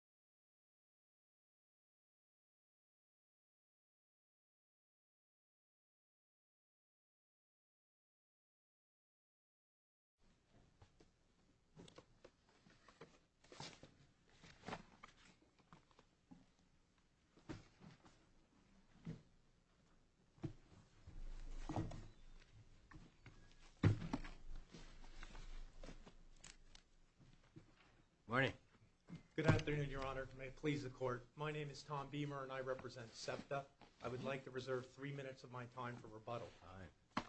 you morning good afternoon your honor may it please the court my name is Tom Beamer and I represent SEPTA I would like to reserve three minutes of my time for rebuttal time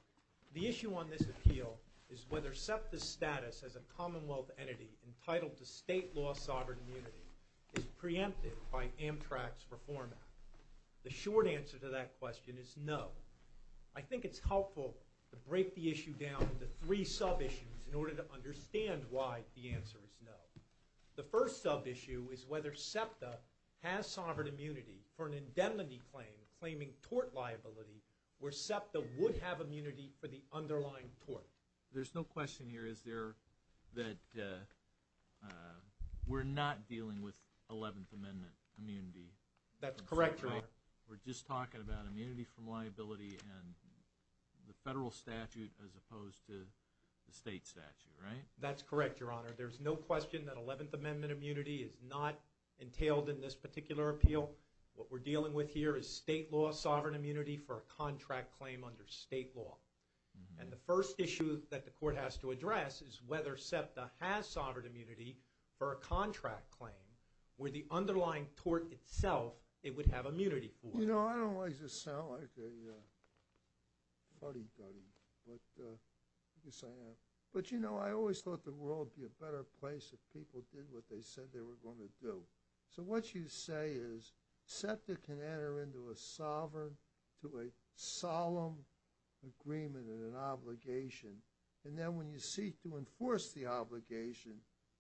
the issue on this appeal is whether SEPTA status as a Commonwealth entity entitled to state law sovereign immunity is preempted by Amtrak's Reform Act the short answer to that question is no I think it's helpful to break the issue down into three sub issues in order to understand why the answer is no the first sub issue is whether SEPTA has sovereign immunity for an indemnity claim claiming tort liability where SEPTA would have the federal statute as opposed to the state statute right that's correct your honor there's no question that 11th Amendment immunity is not entailed in this particular appeal what we're dealing with here is state law sovereign immunity for a contract claim under state law and the first issue that the court has to address is whether SEPTA has sovereign immunity for a contract claim where the underlying tort itself it would have immunity for you know I don't like to sound like a buddy-buddy but yes I am but you know I always thought the world be a better place if people did what they said they were going to do so what you say is SEPTA can enter into a sovereign to a and then when you seek to enforce the obligation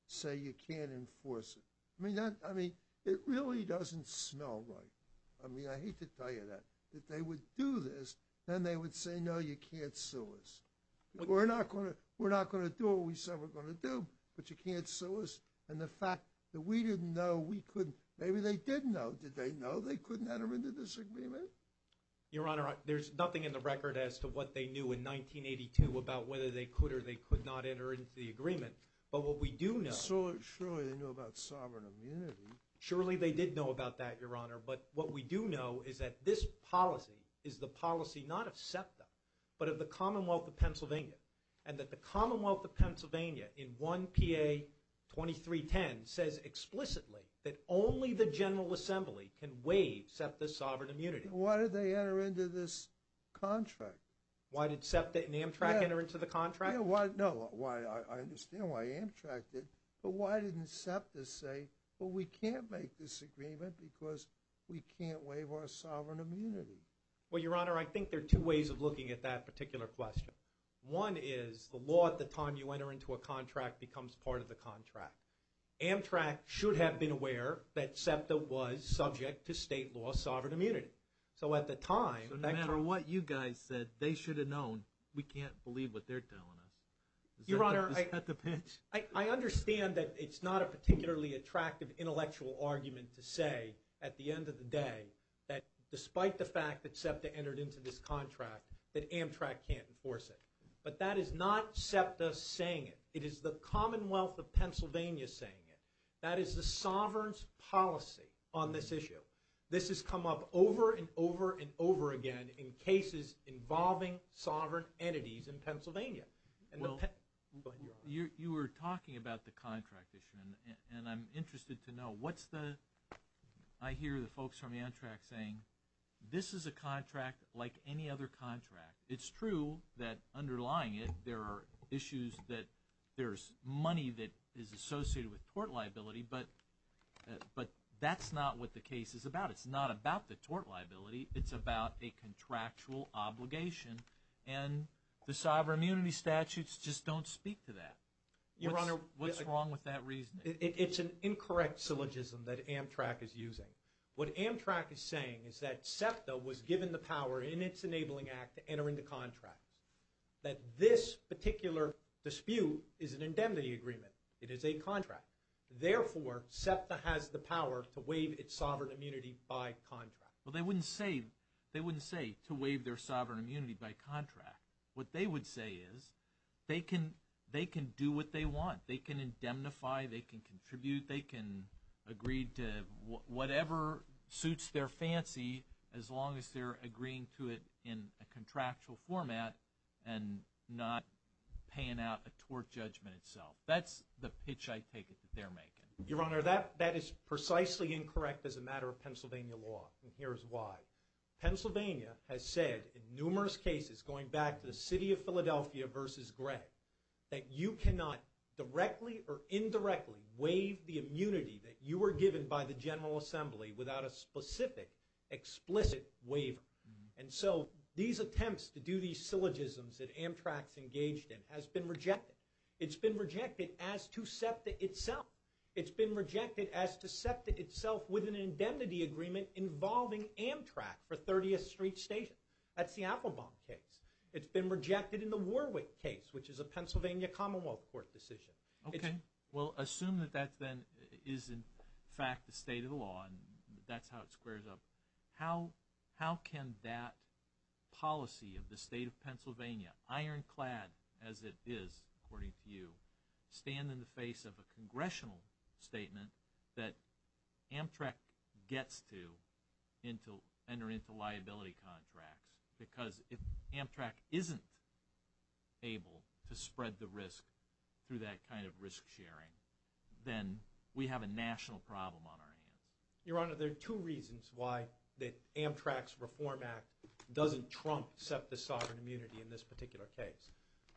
say you can't enforce it I mean that I mean it really doesn't smell right I mean I hate to tell you that that they would do this then they would say no you can't sue us we're not gonna we're not gonna do what we said we're gonna do but you can't sue us and the fact that we didn't know we couldn't maybe they didn't know did they know they couldn't enter into this agreement your honor there's nothing in the record as to what they knew in 1982 about whether they could or they could not enter into the agreement but what we do know surely they did know about that your honor but what we do know is that this policy is the policy not of SEPTA but of the Commonwealth of Pennsylvania and that the Commonwealth of Pennsylvania in one PA 2310 says explicitly that only the General why did SEPTA and Amtrak enter into the contract why no why I understand why Amtrak did but why didn't SEPTA say well we can't make this agreement because we can't waive our sovereign immunity well your honor I think there are two ways of looking at that particular question one is the law at the time you enter into a contract becomes part of the contract Amtrak should have been aware that SEPTA was subject to state law sovereign immunity so at the time no matter what you guys said they should have known we can't believe what they're telling us your honor I had the pitch I understand that it's not a particularly attractive intellectual argument to say at the end of the day that despite the fact that SEPTA entered into this contract that Amtrak can't enforce it but that is not SEPTA saying it it is the Commonwealth of Pennsylvania saying it that is the Sovereign's policy on this issue this has come up over and over and over again in cases involving sovereign entities in Pennsylvania you were talking about the contract issue and I'm interested to know what's the I hear the folks from Amtrak saying this is a contract like any other contract it's true that underlying it there are issues that there's money that is associated with tort liability but but that's not what the case is about it's not about the obligation and the sovereign immunity statutes just don't speak to that your honor what's wrong with that reason it's an incorrect syllogism that Amtrak is using what Amtrak is saying is that SEPTA was given the power in its enabling act to enter into contracts that this particular dispute is an indemnity agreement it is a contract therefore SEPTA has the power to waive its sovereign immunity by contract well they wouldn't say they wouldn't say to waive their sovereign immunity by contract what they would say is they can they can do what they want they can indemnify they can contribute they can agree to whatever suits their fancy as long as they're agreeing to it in a contractual format and not paying out a tort judgment itself that's the pitch I take it that they're making your honor that that is precisely incorrect as a Pennsylvania has said in numerous cases going back to the city of Philadelphia versus Greg that you cannot directly or indirectly waive the immunity that you were given by the General Assembly without a specific explicit waiver and so these attempts to do these syllogisms that Amtrak's engaged in has been rejected it's been rejected as to SEPTA itself it's been rejected as to SEPTA itself with an indemnity agreement involving Amtrak for 30th Street Station that's the Applebaum case it's been rejected in the Warwick case which is a Pennsylvania Commonwealth Court decision okay well assume that that then is in fact the state of the law and that's how it squares up how how can that policy of the state of Pennsylvania ironclad as it is according to you stand in the face of congressional statement that Amtrak gets to into enter into liability contracts because if Amtrak isn't able to spread the risk through that kind of risk-sharing then we have a national problem on our hands your honor there are two reasons why that Amtrak's Reform Act doesn't trump SEPTA sovereign immunity in this particular case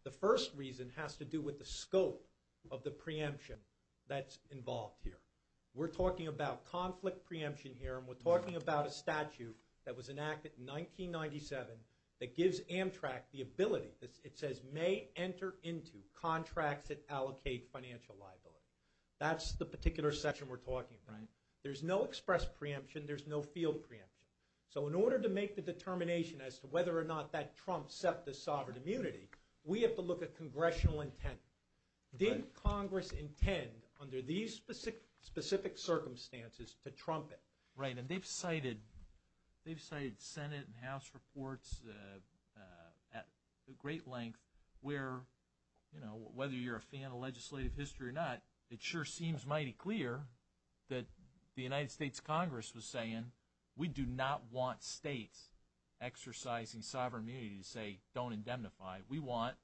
the first reason has to do with the scope of preemption that's involved here we're talking about conflict preemption here and we're talking about a statute that was enacted in 1997 that gives Amtrak the ability this it says may enter into contracts that allocate financial liability that's the particular session we're talking right there's no express preemption there's no field preemption so in order to make the determination as to whether or not that Trump SEPTA sovereign immunity we have to look at what does Congress intend under these specific specific circumstances to Trump it right and they've cited they've cited Senate and House reports at the great length where you know whether you're a fan of legislative history or not it sure seems mighty clear that the United States Congress was saying we do not want states exercising sovereign immunity to say don't indemnify we want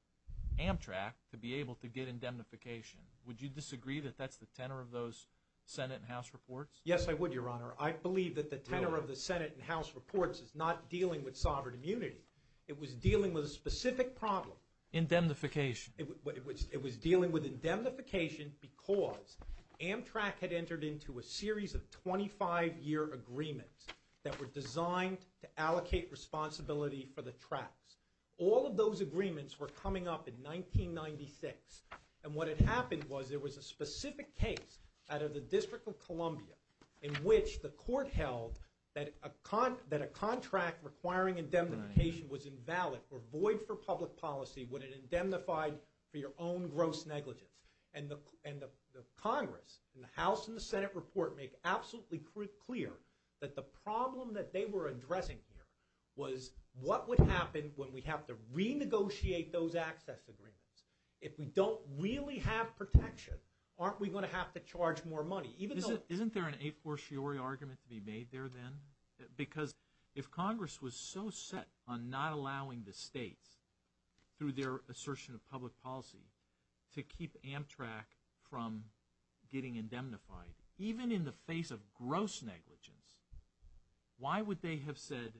Amtrak to be able to get indemnification would you disagree that that's the tenor of those Senate and House reports yes I would your honor I believe that the tenor of the Senate and House reports is not dealing with sovereign immunity it was dealing with a specific problem indemnification it was dealing with indemnification because Amtrak had entered into a series of 25-year agreements that were designed to allocate responsibility for the tracks all of those agreements were coming up in 1996 and what had happened was there was a specific case out of the District of Columbia in which the court held that a con that a contract requiring indemnification was invalid or void for public policy when it indemnified for your own gross negligence and the end of Congress in the House and the Senate report make absolutely clear that the happen when we have to renegotiate those access agreements if we don't really have protection aren't we going to have to charge more money even though isn't there an a for sure argument to be made there then because if Congress was so set on not allowing the states through their assertion of public policy to keep Amtrak from getting indemnified even in the face of gross negligence why would they have said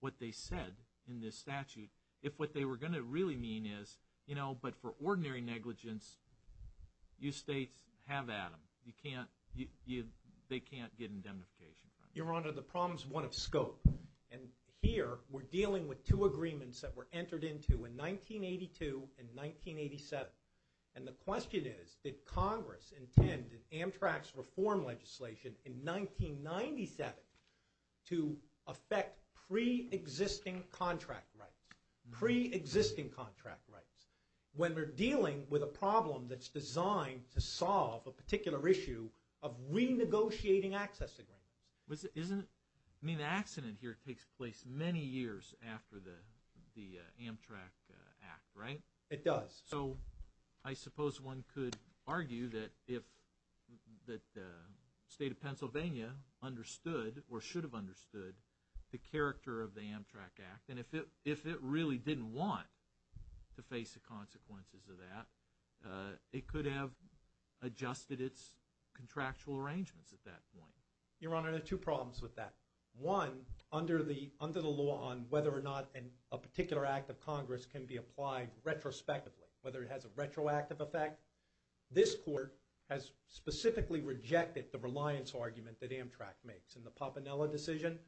what they said in this statute if what they were going to really mean is you know but for ordinary negligence you states have Adam you can't you they can't get indemnification your honor the problems want to scope and here we're dealing with two agreements that were entered into in 1982 and 1987 and the question is that Congress intended Amtrak's reform legislation in 1997 to affect pre-existing contract rights pre-existing contract rights when we're dealing with a problem that's designed to solve a particular issue of renegotiating access agreement was it isn't mean accident here it takes place many years after the the Amtrak act right it does so I suppose one could argue that if the state of Pennsylvania understood or should have understood the character of the Amtrak act and if it if it really didn't want to face the consequences of that it could have adjusted its contractual arrangements at that point your honor the two problems with that one under the under the law on whether or not and a particular act of Congress can be this court has specifically rejected the reliance argument that Amtrak makes in the Papinella decision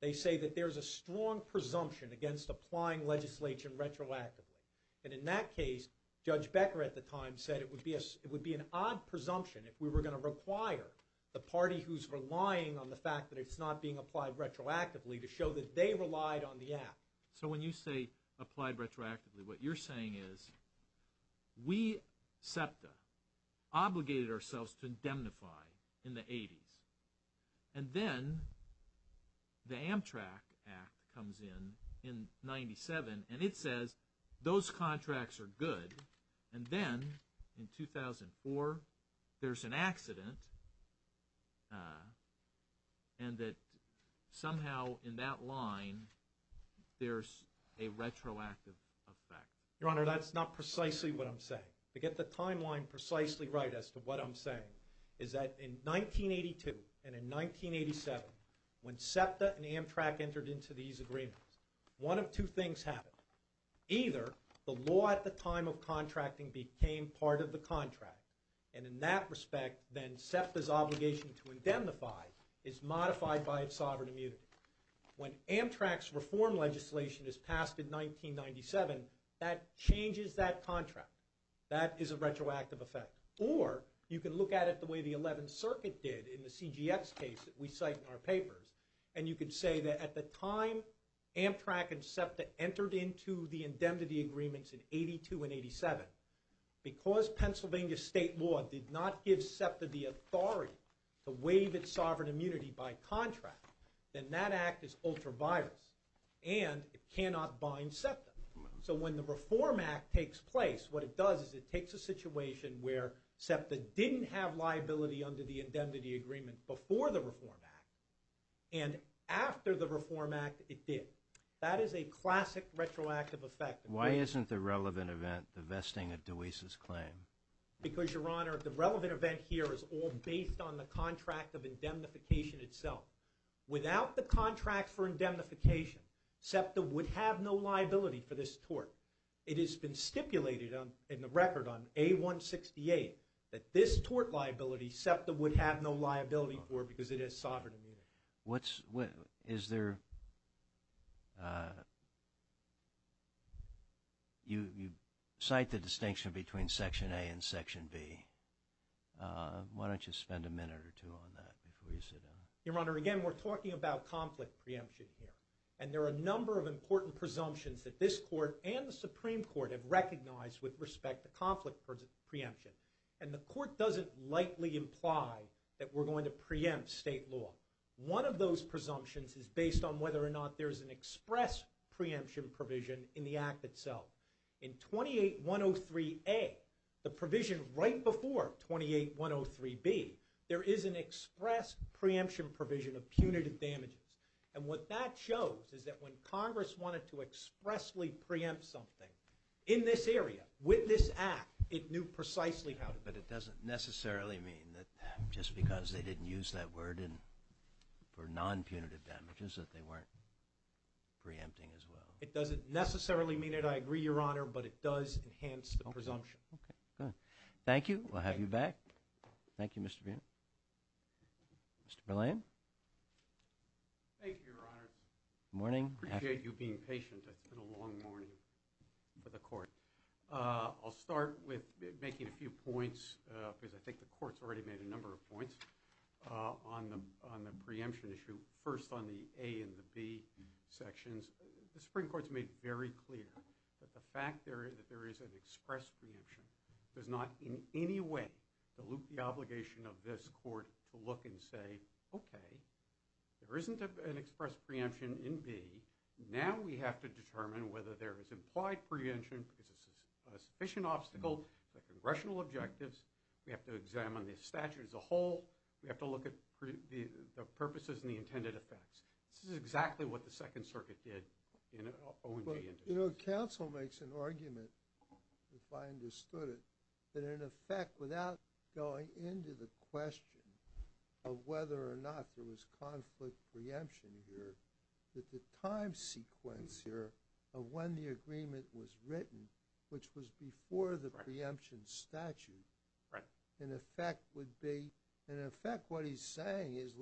they say that there's a strong presumption against applying legislation retroactively and in that case judge Becker at the time said it would be a it would be an odd presumption if we were going to require the party who's relying on the fact that it's not being applied retroactively to show that they relied on the app so when you say applied retroactively what you're saying is we SEPTA obligated ourselves to indemnify in the 80s and then the Amtrak Act comes in in 97 and it says those contracts are good and then in 2004 there's an accident and that somehow in that line there's a that's not precisely what I'm saying to get the timeline precisely right as to what I'm saying is that in 1982 and in 1987 when SEPTA and Amtrak entered into these agreements one of two things happened either the law at the time of contracting became part of the contract and in that respect then SEPTA's obligation to indemnify is modified by its sovereign immunity when Amtrak's legislation is passed in 1997 that changes that contract that is a retroactive effect or you can look at it the way the 11th Circuit did in the CGX case that we cite in our papers and you can say that at the time Amtrak and SEPTA entered into the indemnity agreements in 82 and 87 because Pennsylvania state law did not give SEPTA the authority to waive its and it cannot bind SEPTA so when the Reform Act takes place what it does is it takes a situation where SEPTA didn't have liability under the indemnity agreement before the Reform Act and after the Reform Act it did that is a classic retroactive effect why isn't the relevant event the vesting of DeWeese's claim because your honor the relevant event here is all based on the contract of indemnification itself without the contract for indemnification SEPTA would have no liability for this tort it has been stipulated on in the record on a 168 that this tort liability SEPTA would have no liability for because it has sovereign immunity what's what is there you cite the distinction between section a and section B why don't you spend a your honor again we're talking about conflict preemption here and there are a number of important presumptions that this court and the Supreme Court have recognized with respect to conflict preemption and the court doesn't lightly imply that we're going to preempt state law one of those presumptions is based on whether or not there's an express preemption provision in the act itself in 28 103 a the provision right before 28 103 B there is an express preemption provision of punitive damages and what that shows is that when Congress wanted to expressly preempt something in this area with this act it knew precisely how to but it doesn't necessarily mean that just because they didn't use that word and for non punitive damages that they weren't preempting as well it doesn't necessarily mean it I agree your honor but it does enhance the presumption okay good thank you we'll have you back thank you mr. being mr. Berlin morning appreciate you being patient that's been a long morning for the court I'll start with making a few points because I think the courts already made a number of points on the on the preemption issue first on the a and the B sections the very clear that the fact there is that there is an express preemption does not in any way dilute the obligation of this court to look and say okay there isn't an express preemption in B now we have to determine whether there is implied preemption because this is a sufficient obstacle the congressional objectives we have to examine the statute as a whole we have to look at the purposes and the counsel makes an argument if I understood it that in effect without going into the question of whether or not there was conflict preemption here that the time sequence here of when the agreement was written which was before the preemption statute right in effect would be in effect what he's saying is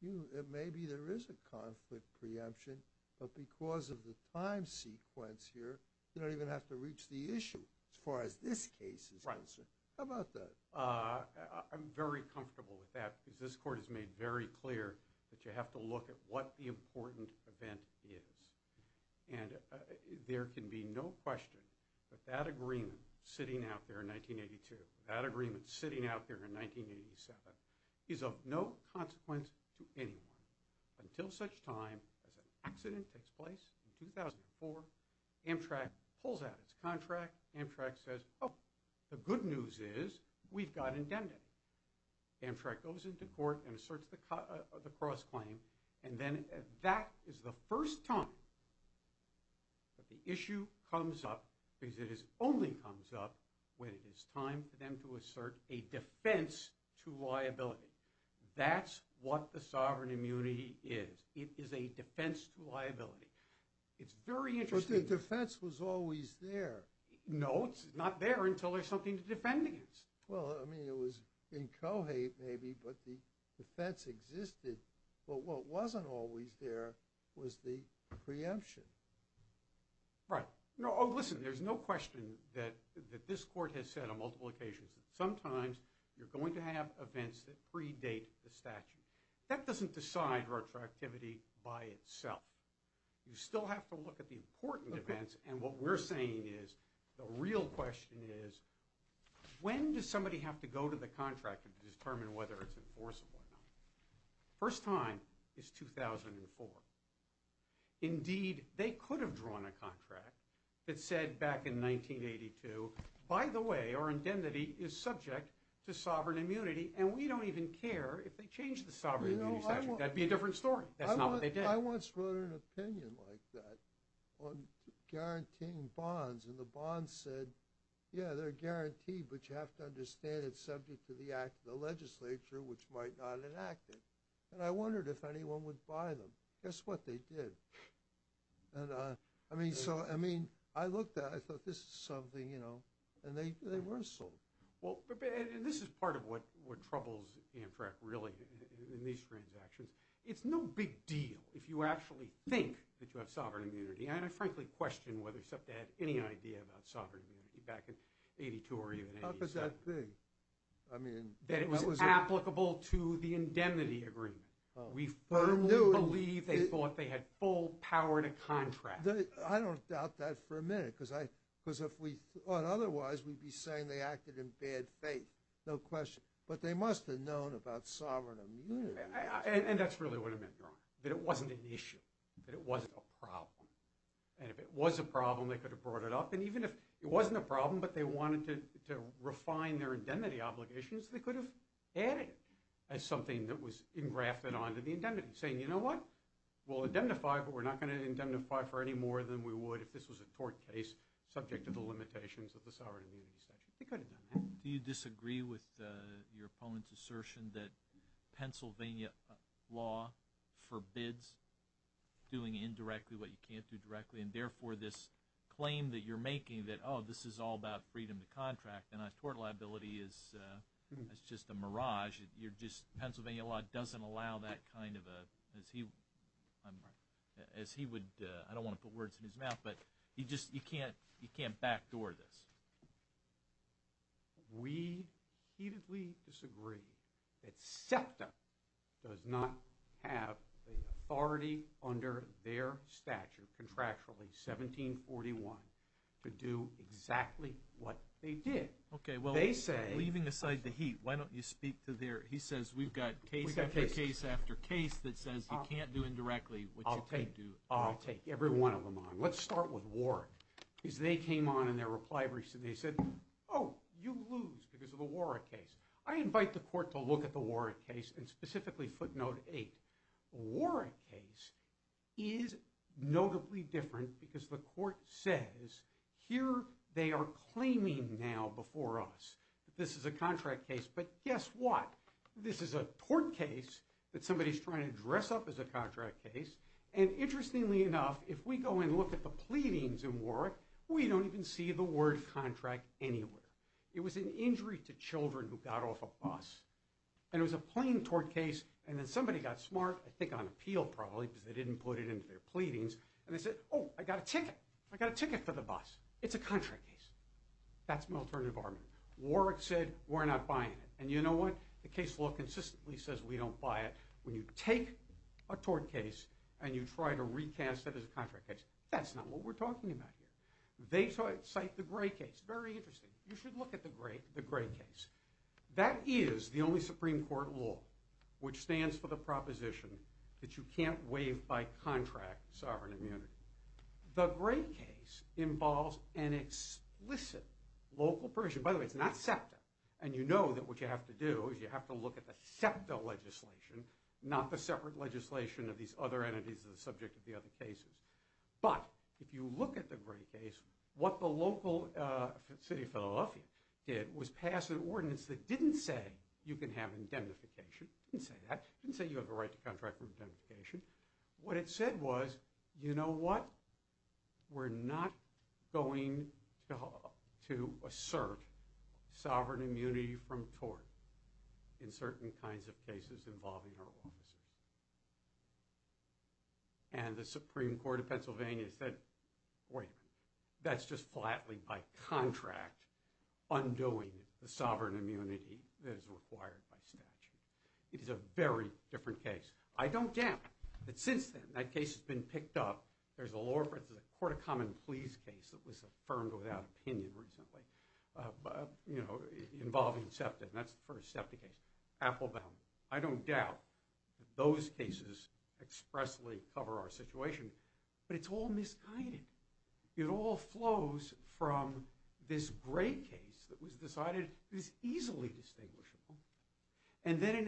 you maybe there is a conflict preemption but because of the time sequence here you don't even have to reach the issue as far as this case is right sir how about that I'm very comfortable with that because this court has made very clear that you have to look at what the important event is and there can be no question but that agreement sitting out there in 1982 that agreement sitting out there in 1987 is of no consequence to anyone until such time as an accident takes place in 2004 Amtrak pulls out its contract Amtrak says oh the good news is we've got intended Amtrak goes into court and asserts the cut of the cross claim and then that is the first time that the issue comes up because it is only comes up when it is time for them to assert a defense to liability that's what the sovereign immunity is it is a defense to liability it's very interesting defense was always there no it's not there until there's something to defend against well I mean it was in Kohate maybe but the defense existed but what wasn't always there was the preemption right no oh listen there's no question that that this court has said on multiple occasions sometimes you're going to have events that predate the statute that doesn't decide retro activity by itself you still have to look at the important events and what we're saying is the real question is when does somebody have to go to the contractor to determine whether it's enforceable first time is 2004 indeed they could have drawn a contract that said back in 1982 by the way our indemnity is subject to sovereign immunity and we don't even care if they change the sovereign that'd be a different story that's not what they did I once wrote an opinion like that on guaranteeing bonds and the bond said yeah they're guaranteed but you have to understand it's subject to the act of the legislature which might not enact it and I wondered if anyone would buy them guess what they did I mean so I mean I looked at I thought this is something you know and they were sold well this is part of what what troubles Amtrak really in these transactions it's no big deal if you actually think that you have sovereign immunity and I frankly question whether except to have any idea about sovereign back in 82 or even I mean that it was applicable to the full power to contract I don't doubt that for a minute because I because if we thought otherwise we'd be saying they acted in bad faith no question but they must have known about sovereign and that's really what I meant that it wasn't an issue that it wasn't a problem and if it was a problem they could have brought it up and even if it wasn't a problem but they wanted to refine their indemnity obligations they could have added as something that was engrafted on saying you know what we'll identify but we're not going to indemnify for any more than we would if this was a tort case subject to the limitations of the sovereign do you disagree with your opponent's assertion that Pennsylvania law forbids doing indirectly what you can't do directly and therefore this claim that you're making that oh this is all about freedom to contract and I tort liability is it's just a mirage you're just Pennsylvania a lot doesn't allow that kind of a as he I'm as he would I don't want to put words in his mouth but you just you can't you can't backdoor this we heatedly disagree it's septa does not have authority under their stature contractually 1741 to do exactly what they did okay well they say leaving aside the heat why don't you speak to their he says we've got case after case after case that says you can't do indirectly okay do I'll take every one of them on let's start with war because they came on in their reply recently said oh you lose because of a war a case I invite the court to look at the war a case and specifically footnote eight war a case is notably different because the court says here they are claiming now before us this is a contract case but guess what this is a tort case that somebody's trying to dress up as a contract case and interestingly enough if we go and look at the pleadings in war we don't even see the word contract anywhere it was an injury to children who got off a bus and it was a plain tort case and then somebody got smart I think on appeal probably because they didn't put it into their pleadings and they said oh I got a bus it's a contract case that's military department Warwick said we're not buying it and you know what the case law consistently says we don't buy it when you take a tort case and you try to recast it as a contract case that's not what we're talking about here they saw it cite the gray case very interesting you should look at the great the gray case that is the only Supreme Court law which stands for the proposition that you can't waive by contract sovereign the great case involves an explicit local permission by the way it's not septa and you know that what you have to do is you have to look at the septal legislation not the separate legislation of these other entities of the subject of the other cases but if you look at the great case what the local city Philadelphia did was pass an ordinance that didn't say you can have indemnification didn't say that didn't say you have a right to contract what it said was you know what we're not going to assert sovereign immunity from tort in certain kinds of cases involving our offices and the Supreme Court of Pennsylvania said wait that's just flatly by contract undoing the sovereign yeah but since then that case has been picked up there's a law for the court of common pleas case that was affirmed without opinion recently but you know involving septa and that's the first septa case Applebaum I don't doubt those cases expressly cover our situation but it's all misguided it all flows from this great case that was decided is easily distinguishable and then it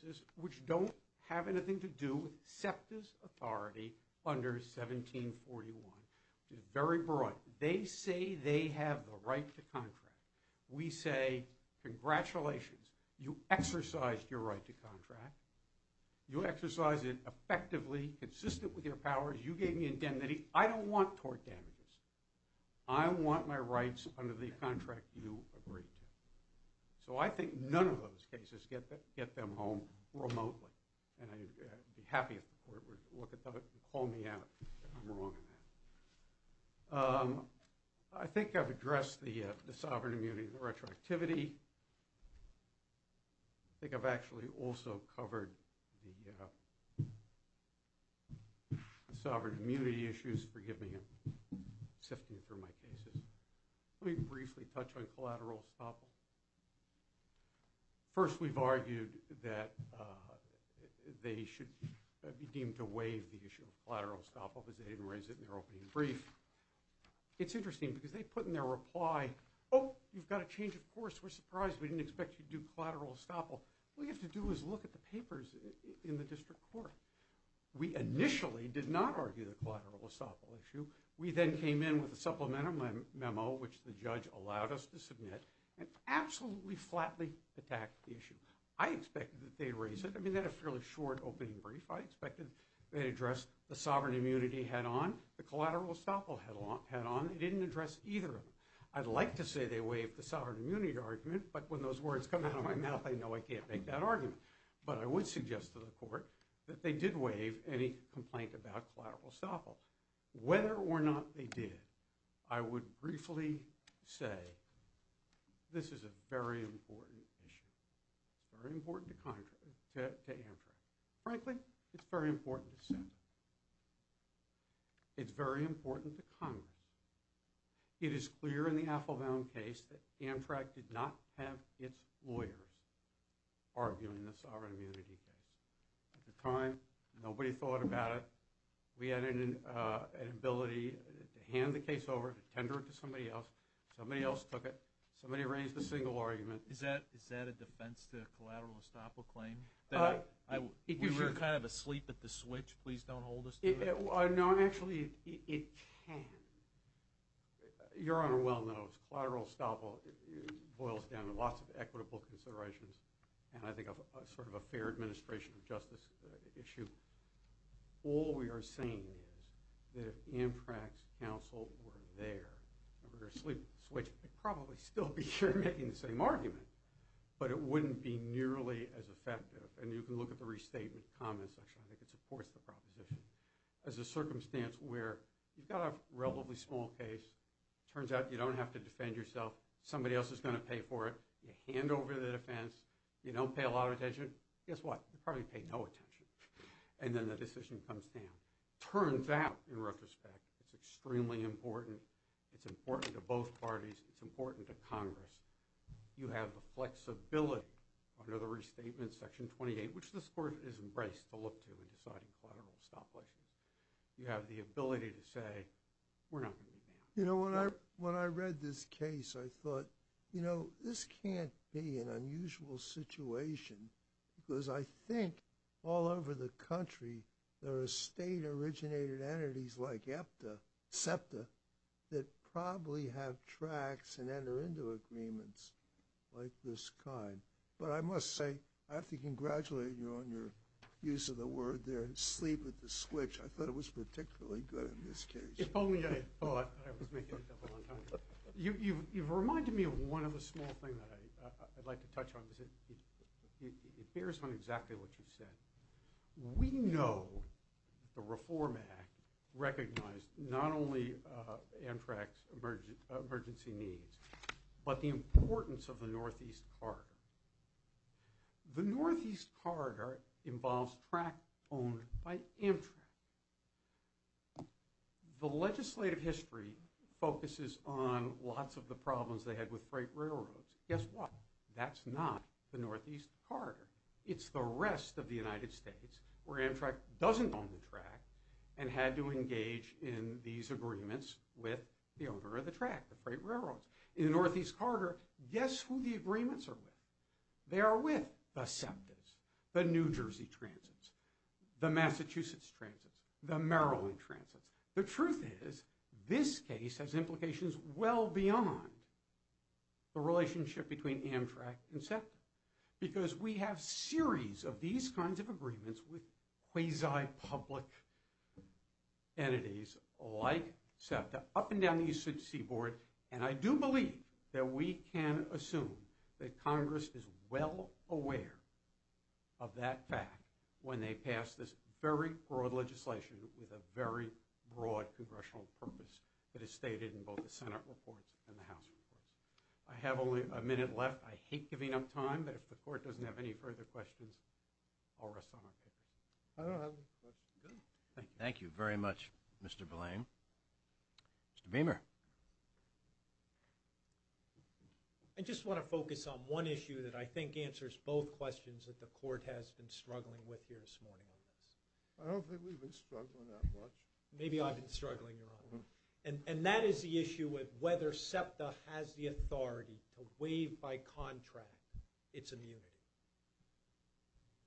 cases which don't have anything to do with septas authority under 1741 very broad they say they have the right to contract we say congratulations you exercised your right to contract you exercise it effectively consistent with your powers you gave me indemnity I don't want tort damages I want my rights under the contract you agreed to so I think none of those cases get that get them home remotely and I'd be happy if the court would look at that call me out I think I've addressed the the sovereign immunity the retroactivity I think I've actually also covered the sovereign immunity issues forgive me sifting through my cases let me briefly touch on collateral stop first we've argued that they should be deemed to waive the issue of collateral stop up as they didn't raise it in their opening brief it's interesting because they put in their reply oh you've got a change of course we're surprised we didn't expect you to do collateral stop all we have to do is look at the papers in the district court we initially did not argue the collateral estoppel issue we then came in with a supplement of my memo which the judge allowed us to submit and flatly attacked the issue I expected that they'd raise it I mean that a fairly short opening brief I expected they address the sovereign immunity head on the collateral estoppel headlong head on it didn't address either of them I'd like to say they waive the sovereign immunity argument but when those words come out of my mouth I know I can't make that argument but I would suggest to the court that they did waive any complaint about collateral estoppel whether or not they did I would briefly say this is a very important issue very important to contract to answer frankly it's very important to say it's very important to Congress it is clear in the Applebaum case that Amtrak did not have its lawyers arguing the sovereign immunity case at the time nobody thought about it we had an ability to hand the case over to tender it to somebody else somebody else took it somebody arranged the single argument is that is that a defense to collateral estoppel claim that I think you're kind of asleep at the switch please don't hold us no I'm actually it can your honor well knows collateral estoppel boils down to lots of equitable considerations and I think sort of a fair administration of justice issue all we are saying is that if Amtrak's counsel were there we're asleep switch probably still be sure making the same argument but it wouldn't be nearly as effective and you can look at the restatement comments actually I think it supports the proposition as a circumstance where you've got a relatively small case turns out you don't have to defend yourself somebody else is going to pay for it you hand over the defense you don't pay a lot of attention guess what you probably pay no attention and then the decision comes down turns out in retrospect it's extremely important it's important to both parties it's important to Congress you have the flexibility under the restatement section 28 which the sport is embraced to look to in deciding collateral stoplation you have the ability to say we're not you know when I when I read this case I thought you know this can't be an unusual situation because I think all over the country there are state-originated entities like EPTA SEPTA that probably have tracks and enter into agreements like this kind but I must say I have to congratulate you on your use of the word there and sleep with the switch I thought it was particularly good in this case you've reminded me of one of the small thing that I'd like to touch on is it it bears on exactly what you said we know the reform act recognized not only Amtrak's emergency emergency needs but the importance of the Northeast Carter the Northeast Carter involves track owned by Amtrak the legislative history focuses on lots of the problems they had with freight railroads guess what that's not the Northeast Carter it's the rest of the United States where Amtrak doesn't own the track and had to engage in these agreements with the owner of the track the freight railroads in the Northeast Carter guess who the agreements are with they are with the SEPTA's the New Jersey transits the Massachusetts transits the Maryland transits the truth is this case has implications well beyond the relationship between Amtrak and SEPTA because we have series of these kinds of agreements with quasi public entities like SEPTA up and down the East Sea Board and I do believe that we can assume that Congress is well aware of that fact when they pass this very broad legislation with a very broad congressional purpose that is stated in both the Senate reports and the House reports I have only a minute left I hate giving up time but if the court doesn't have any further questions I'll rest on our paper. Thank you very much Mr. Boulayne. Mr. Beamer. I just want to focus on one issue that I think answers both questions that the court has been struggling with here this morning. I don't think we've been struggling that much. Maybe I've been struggling your honor and and that is the issue with whether SEPTA has the authority to waive by contract its immunity.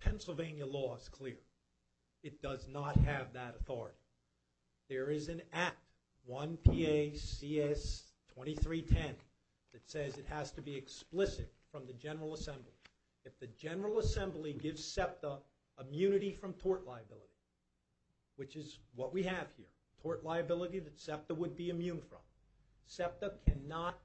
Pennsylvania law is clear it does not have that authority. There is an act 1 PACS 2310 that says it has to be explicit from the General Assembly. If the General Assembly gives SEPTA immunity from tort liability which is what we have here tort liability that SEPTA would be immune from. SEPTA cannot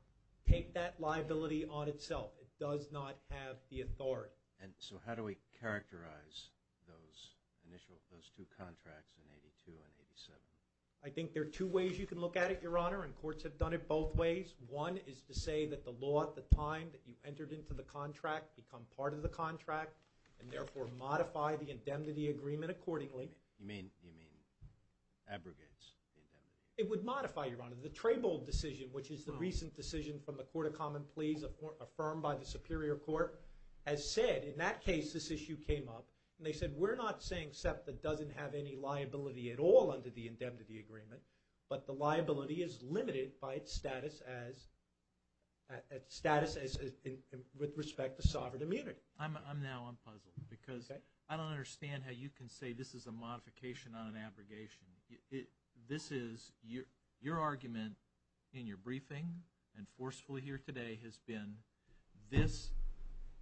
take that liability on itself it does not have the authority. And so how do we characterize those initial those two contracts in 82 and 87? I think there are two ways you can look at it your honor and courts have done it both ways. One is to say that the law at the time that you entered into the contract become part of the contract and therefore modify the indemnity agreement accordingly. You mean you mean abrogates? It would modify your honor the Treybold decision which is the recent decision from the Court of Common Pleas affirmed by the Superior Court as said in that case this issue came up they said we're not saying SEPTA doesn't have any liability at all under the indemnity agreement but the liability is limited by its status as with respect to sovereign immunity. I'm now puzzled because I don't understand how you can say this is a modification on an abrogation. This is your argument in your briefing and forcefully here today has been this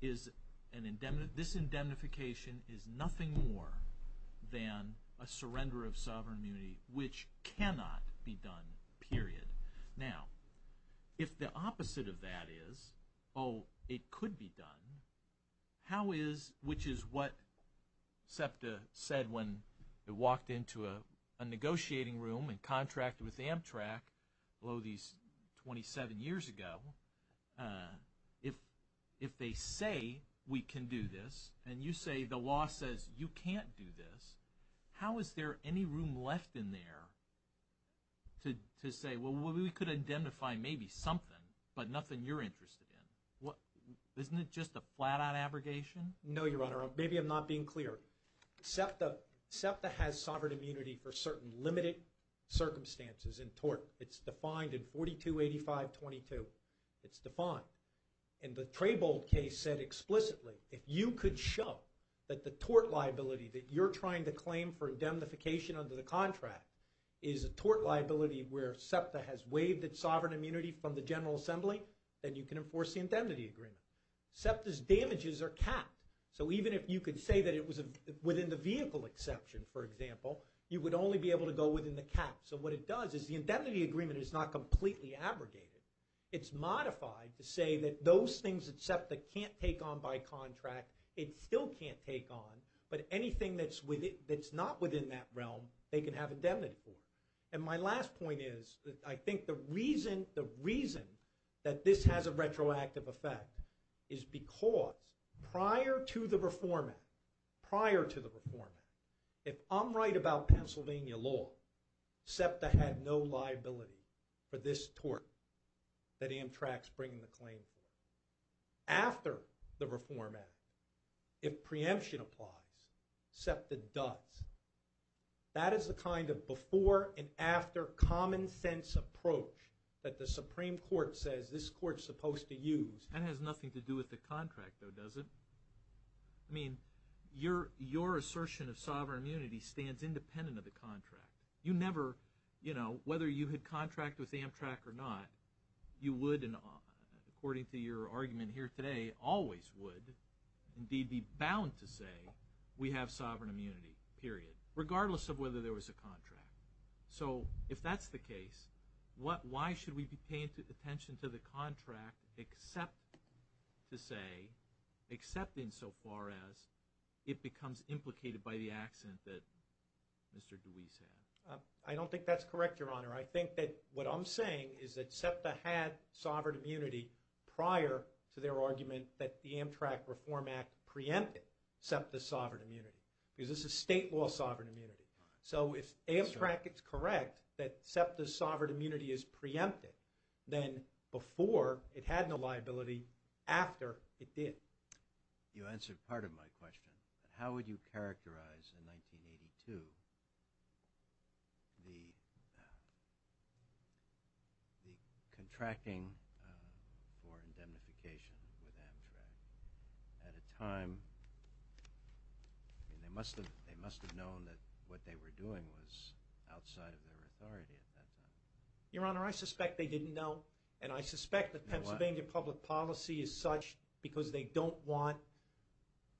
is an indemnity this indemnification is nothing more than a surrender of sovereign immunity which cannot be done period. Now if the opposite of that is oh it could be done how is which is what SEPTA said when it walked into a negotiating room and contracted with Amtrak below these 27 years ago if if they say we can do this and you say the law says you can't do this how is there any room left in there to say well we could identify maybe something but nothing you're interested in what isn't it just a flat-out abrogation? No your honor maybe I'm not being clear SEPTA SEPTA has sovereign immunity from the General Assembly then you can enforce the indemnity agreement. SEPTA's damages are capped so even if you could say that it was a within the vehicle exception for example you would only be able to go within the cap so what it does is the indemnity agreement is not completely abrogated. It's modified to say that those things that SEPTA can't take on by contract it still can't take on but anything that's with it that's not within that realm they can have indemnity for and my last point is that I think the reason the reason that this has a retroactive effect is because prior to the Reform Act prior to the Reform Act if I'm right about Pennsylvania law SEPTA had no liability for this tort that Amtrak's bringing the claim for. After the Reform Act if preemption applies SEPTA does. That is the kind of before and after common-sense approach that the Supreme Court says this court's supposed to use. That has nothing to do with the contract though does it? I mean your your assertion of sovereign immunity stands independent of the contract you never you know whether you had contract with Amtrak or not you would and according to your argument here today always would indeed be bound to say we have sovereign immunity period regardless of whether there was a contract. So if that's the case what why should we be paying attention to the contract except to say accepting so far as it becomes implicated by the accident that Mr. Dewey said. I don't think that's correct your honor I think that what I'm saying is that SEPTA had sovereign immunity prior to their argument that the Amtrak Reform Act preempted SEPTA sovereign immunity because this is state law sovereign immunity. So if Amtrak it's correct that SEPTA's sovereign immunity is preempted then before it had no liability after it did. You answered part of my question how would you the contracting for indemnification with Amtrak at a time they must have they must have known that what they were doing was outside of their authority at that time. Your honor I suspect they didn't know and I suspect that Pennsylvania public policy is such because they don't want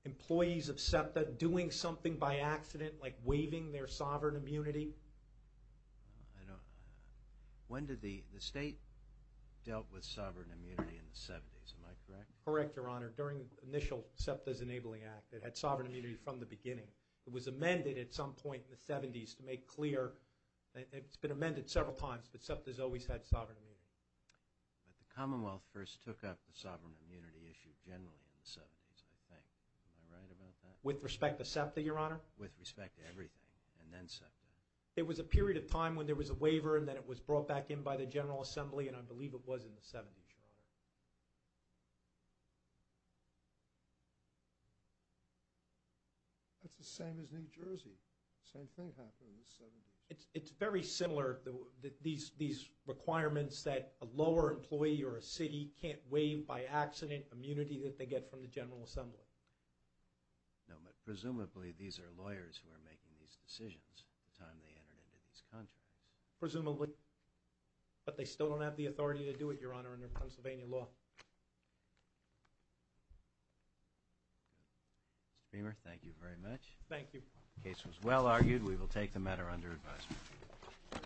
employees of I don't when did the the state dealt with sovereign immunity in the 70s am I correct? Correct your honor during initial SEPTA's enabling act it had sovereign immunity from the beginning. It was amended at some point in the 70s to make clear it's been amended several times but SEPTA's always had sovereign immunity. But the Commonwealth first took up the sovereign immunity issue generally in the 70s I think. Am I right about that? With respect to SEPTA your honor? With respect to everything and then SEPTA. It was a period of time when there was a waiver and then it was brought back in by the General Assembly and I believe it was in the 70s your honor. That's the same as New Jersey. Same thing happened in the 70s. It's very similar that these these requirements that a lower employee or a city can't waive by accident immunity that they get from the General Assembly. No but presumably these are lawyers who are making these decisions the time they entered into these contracts. Presumably but they still don't have the authority to do it your honor under Pennsylvania law. Mr. Beamer thank you very much. Thank you. The case was well argued we will take the matter under advisement.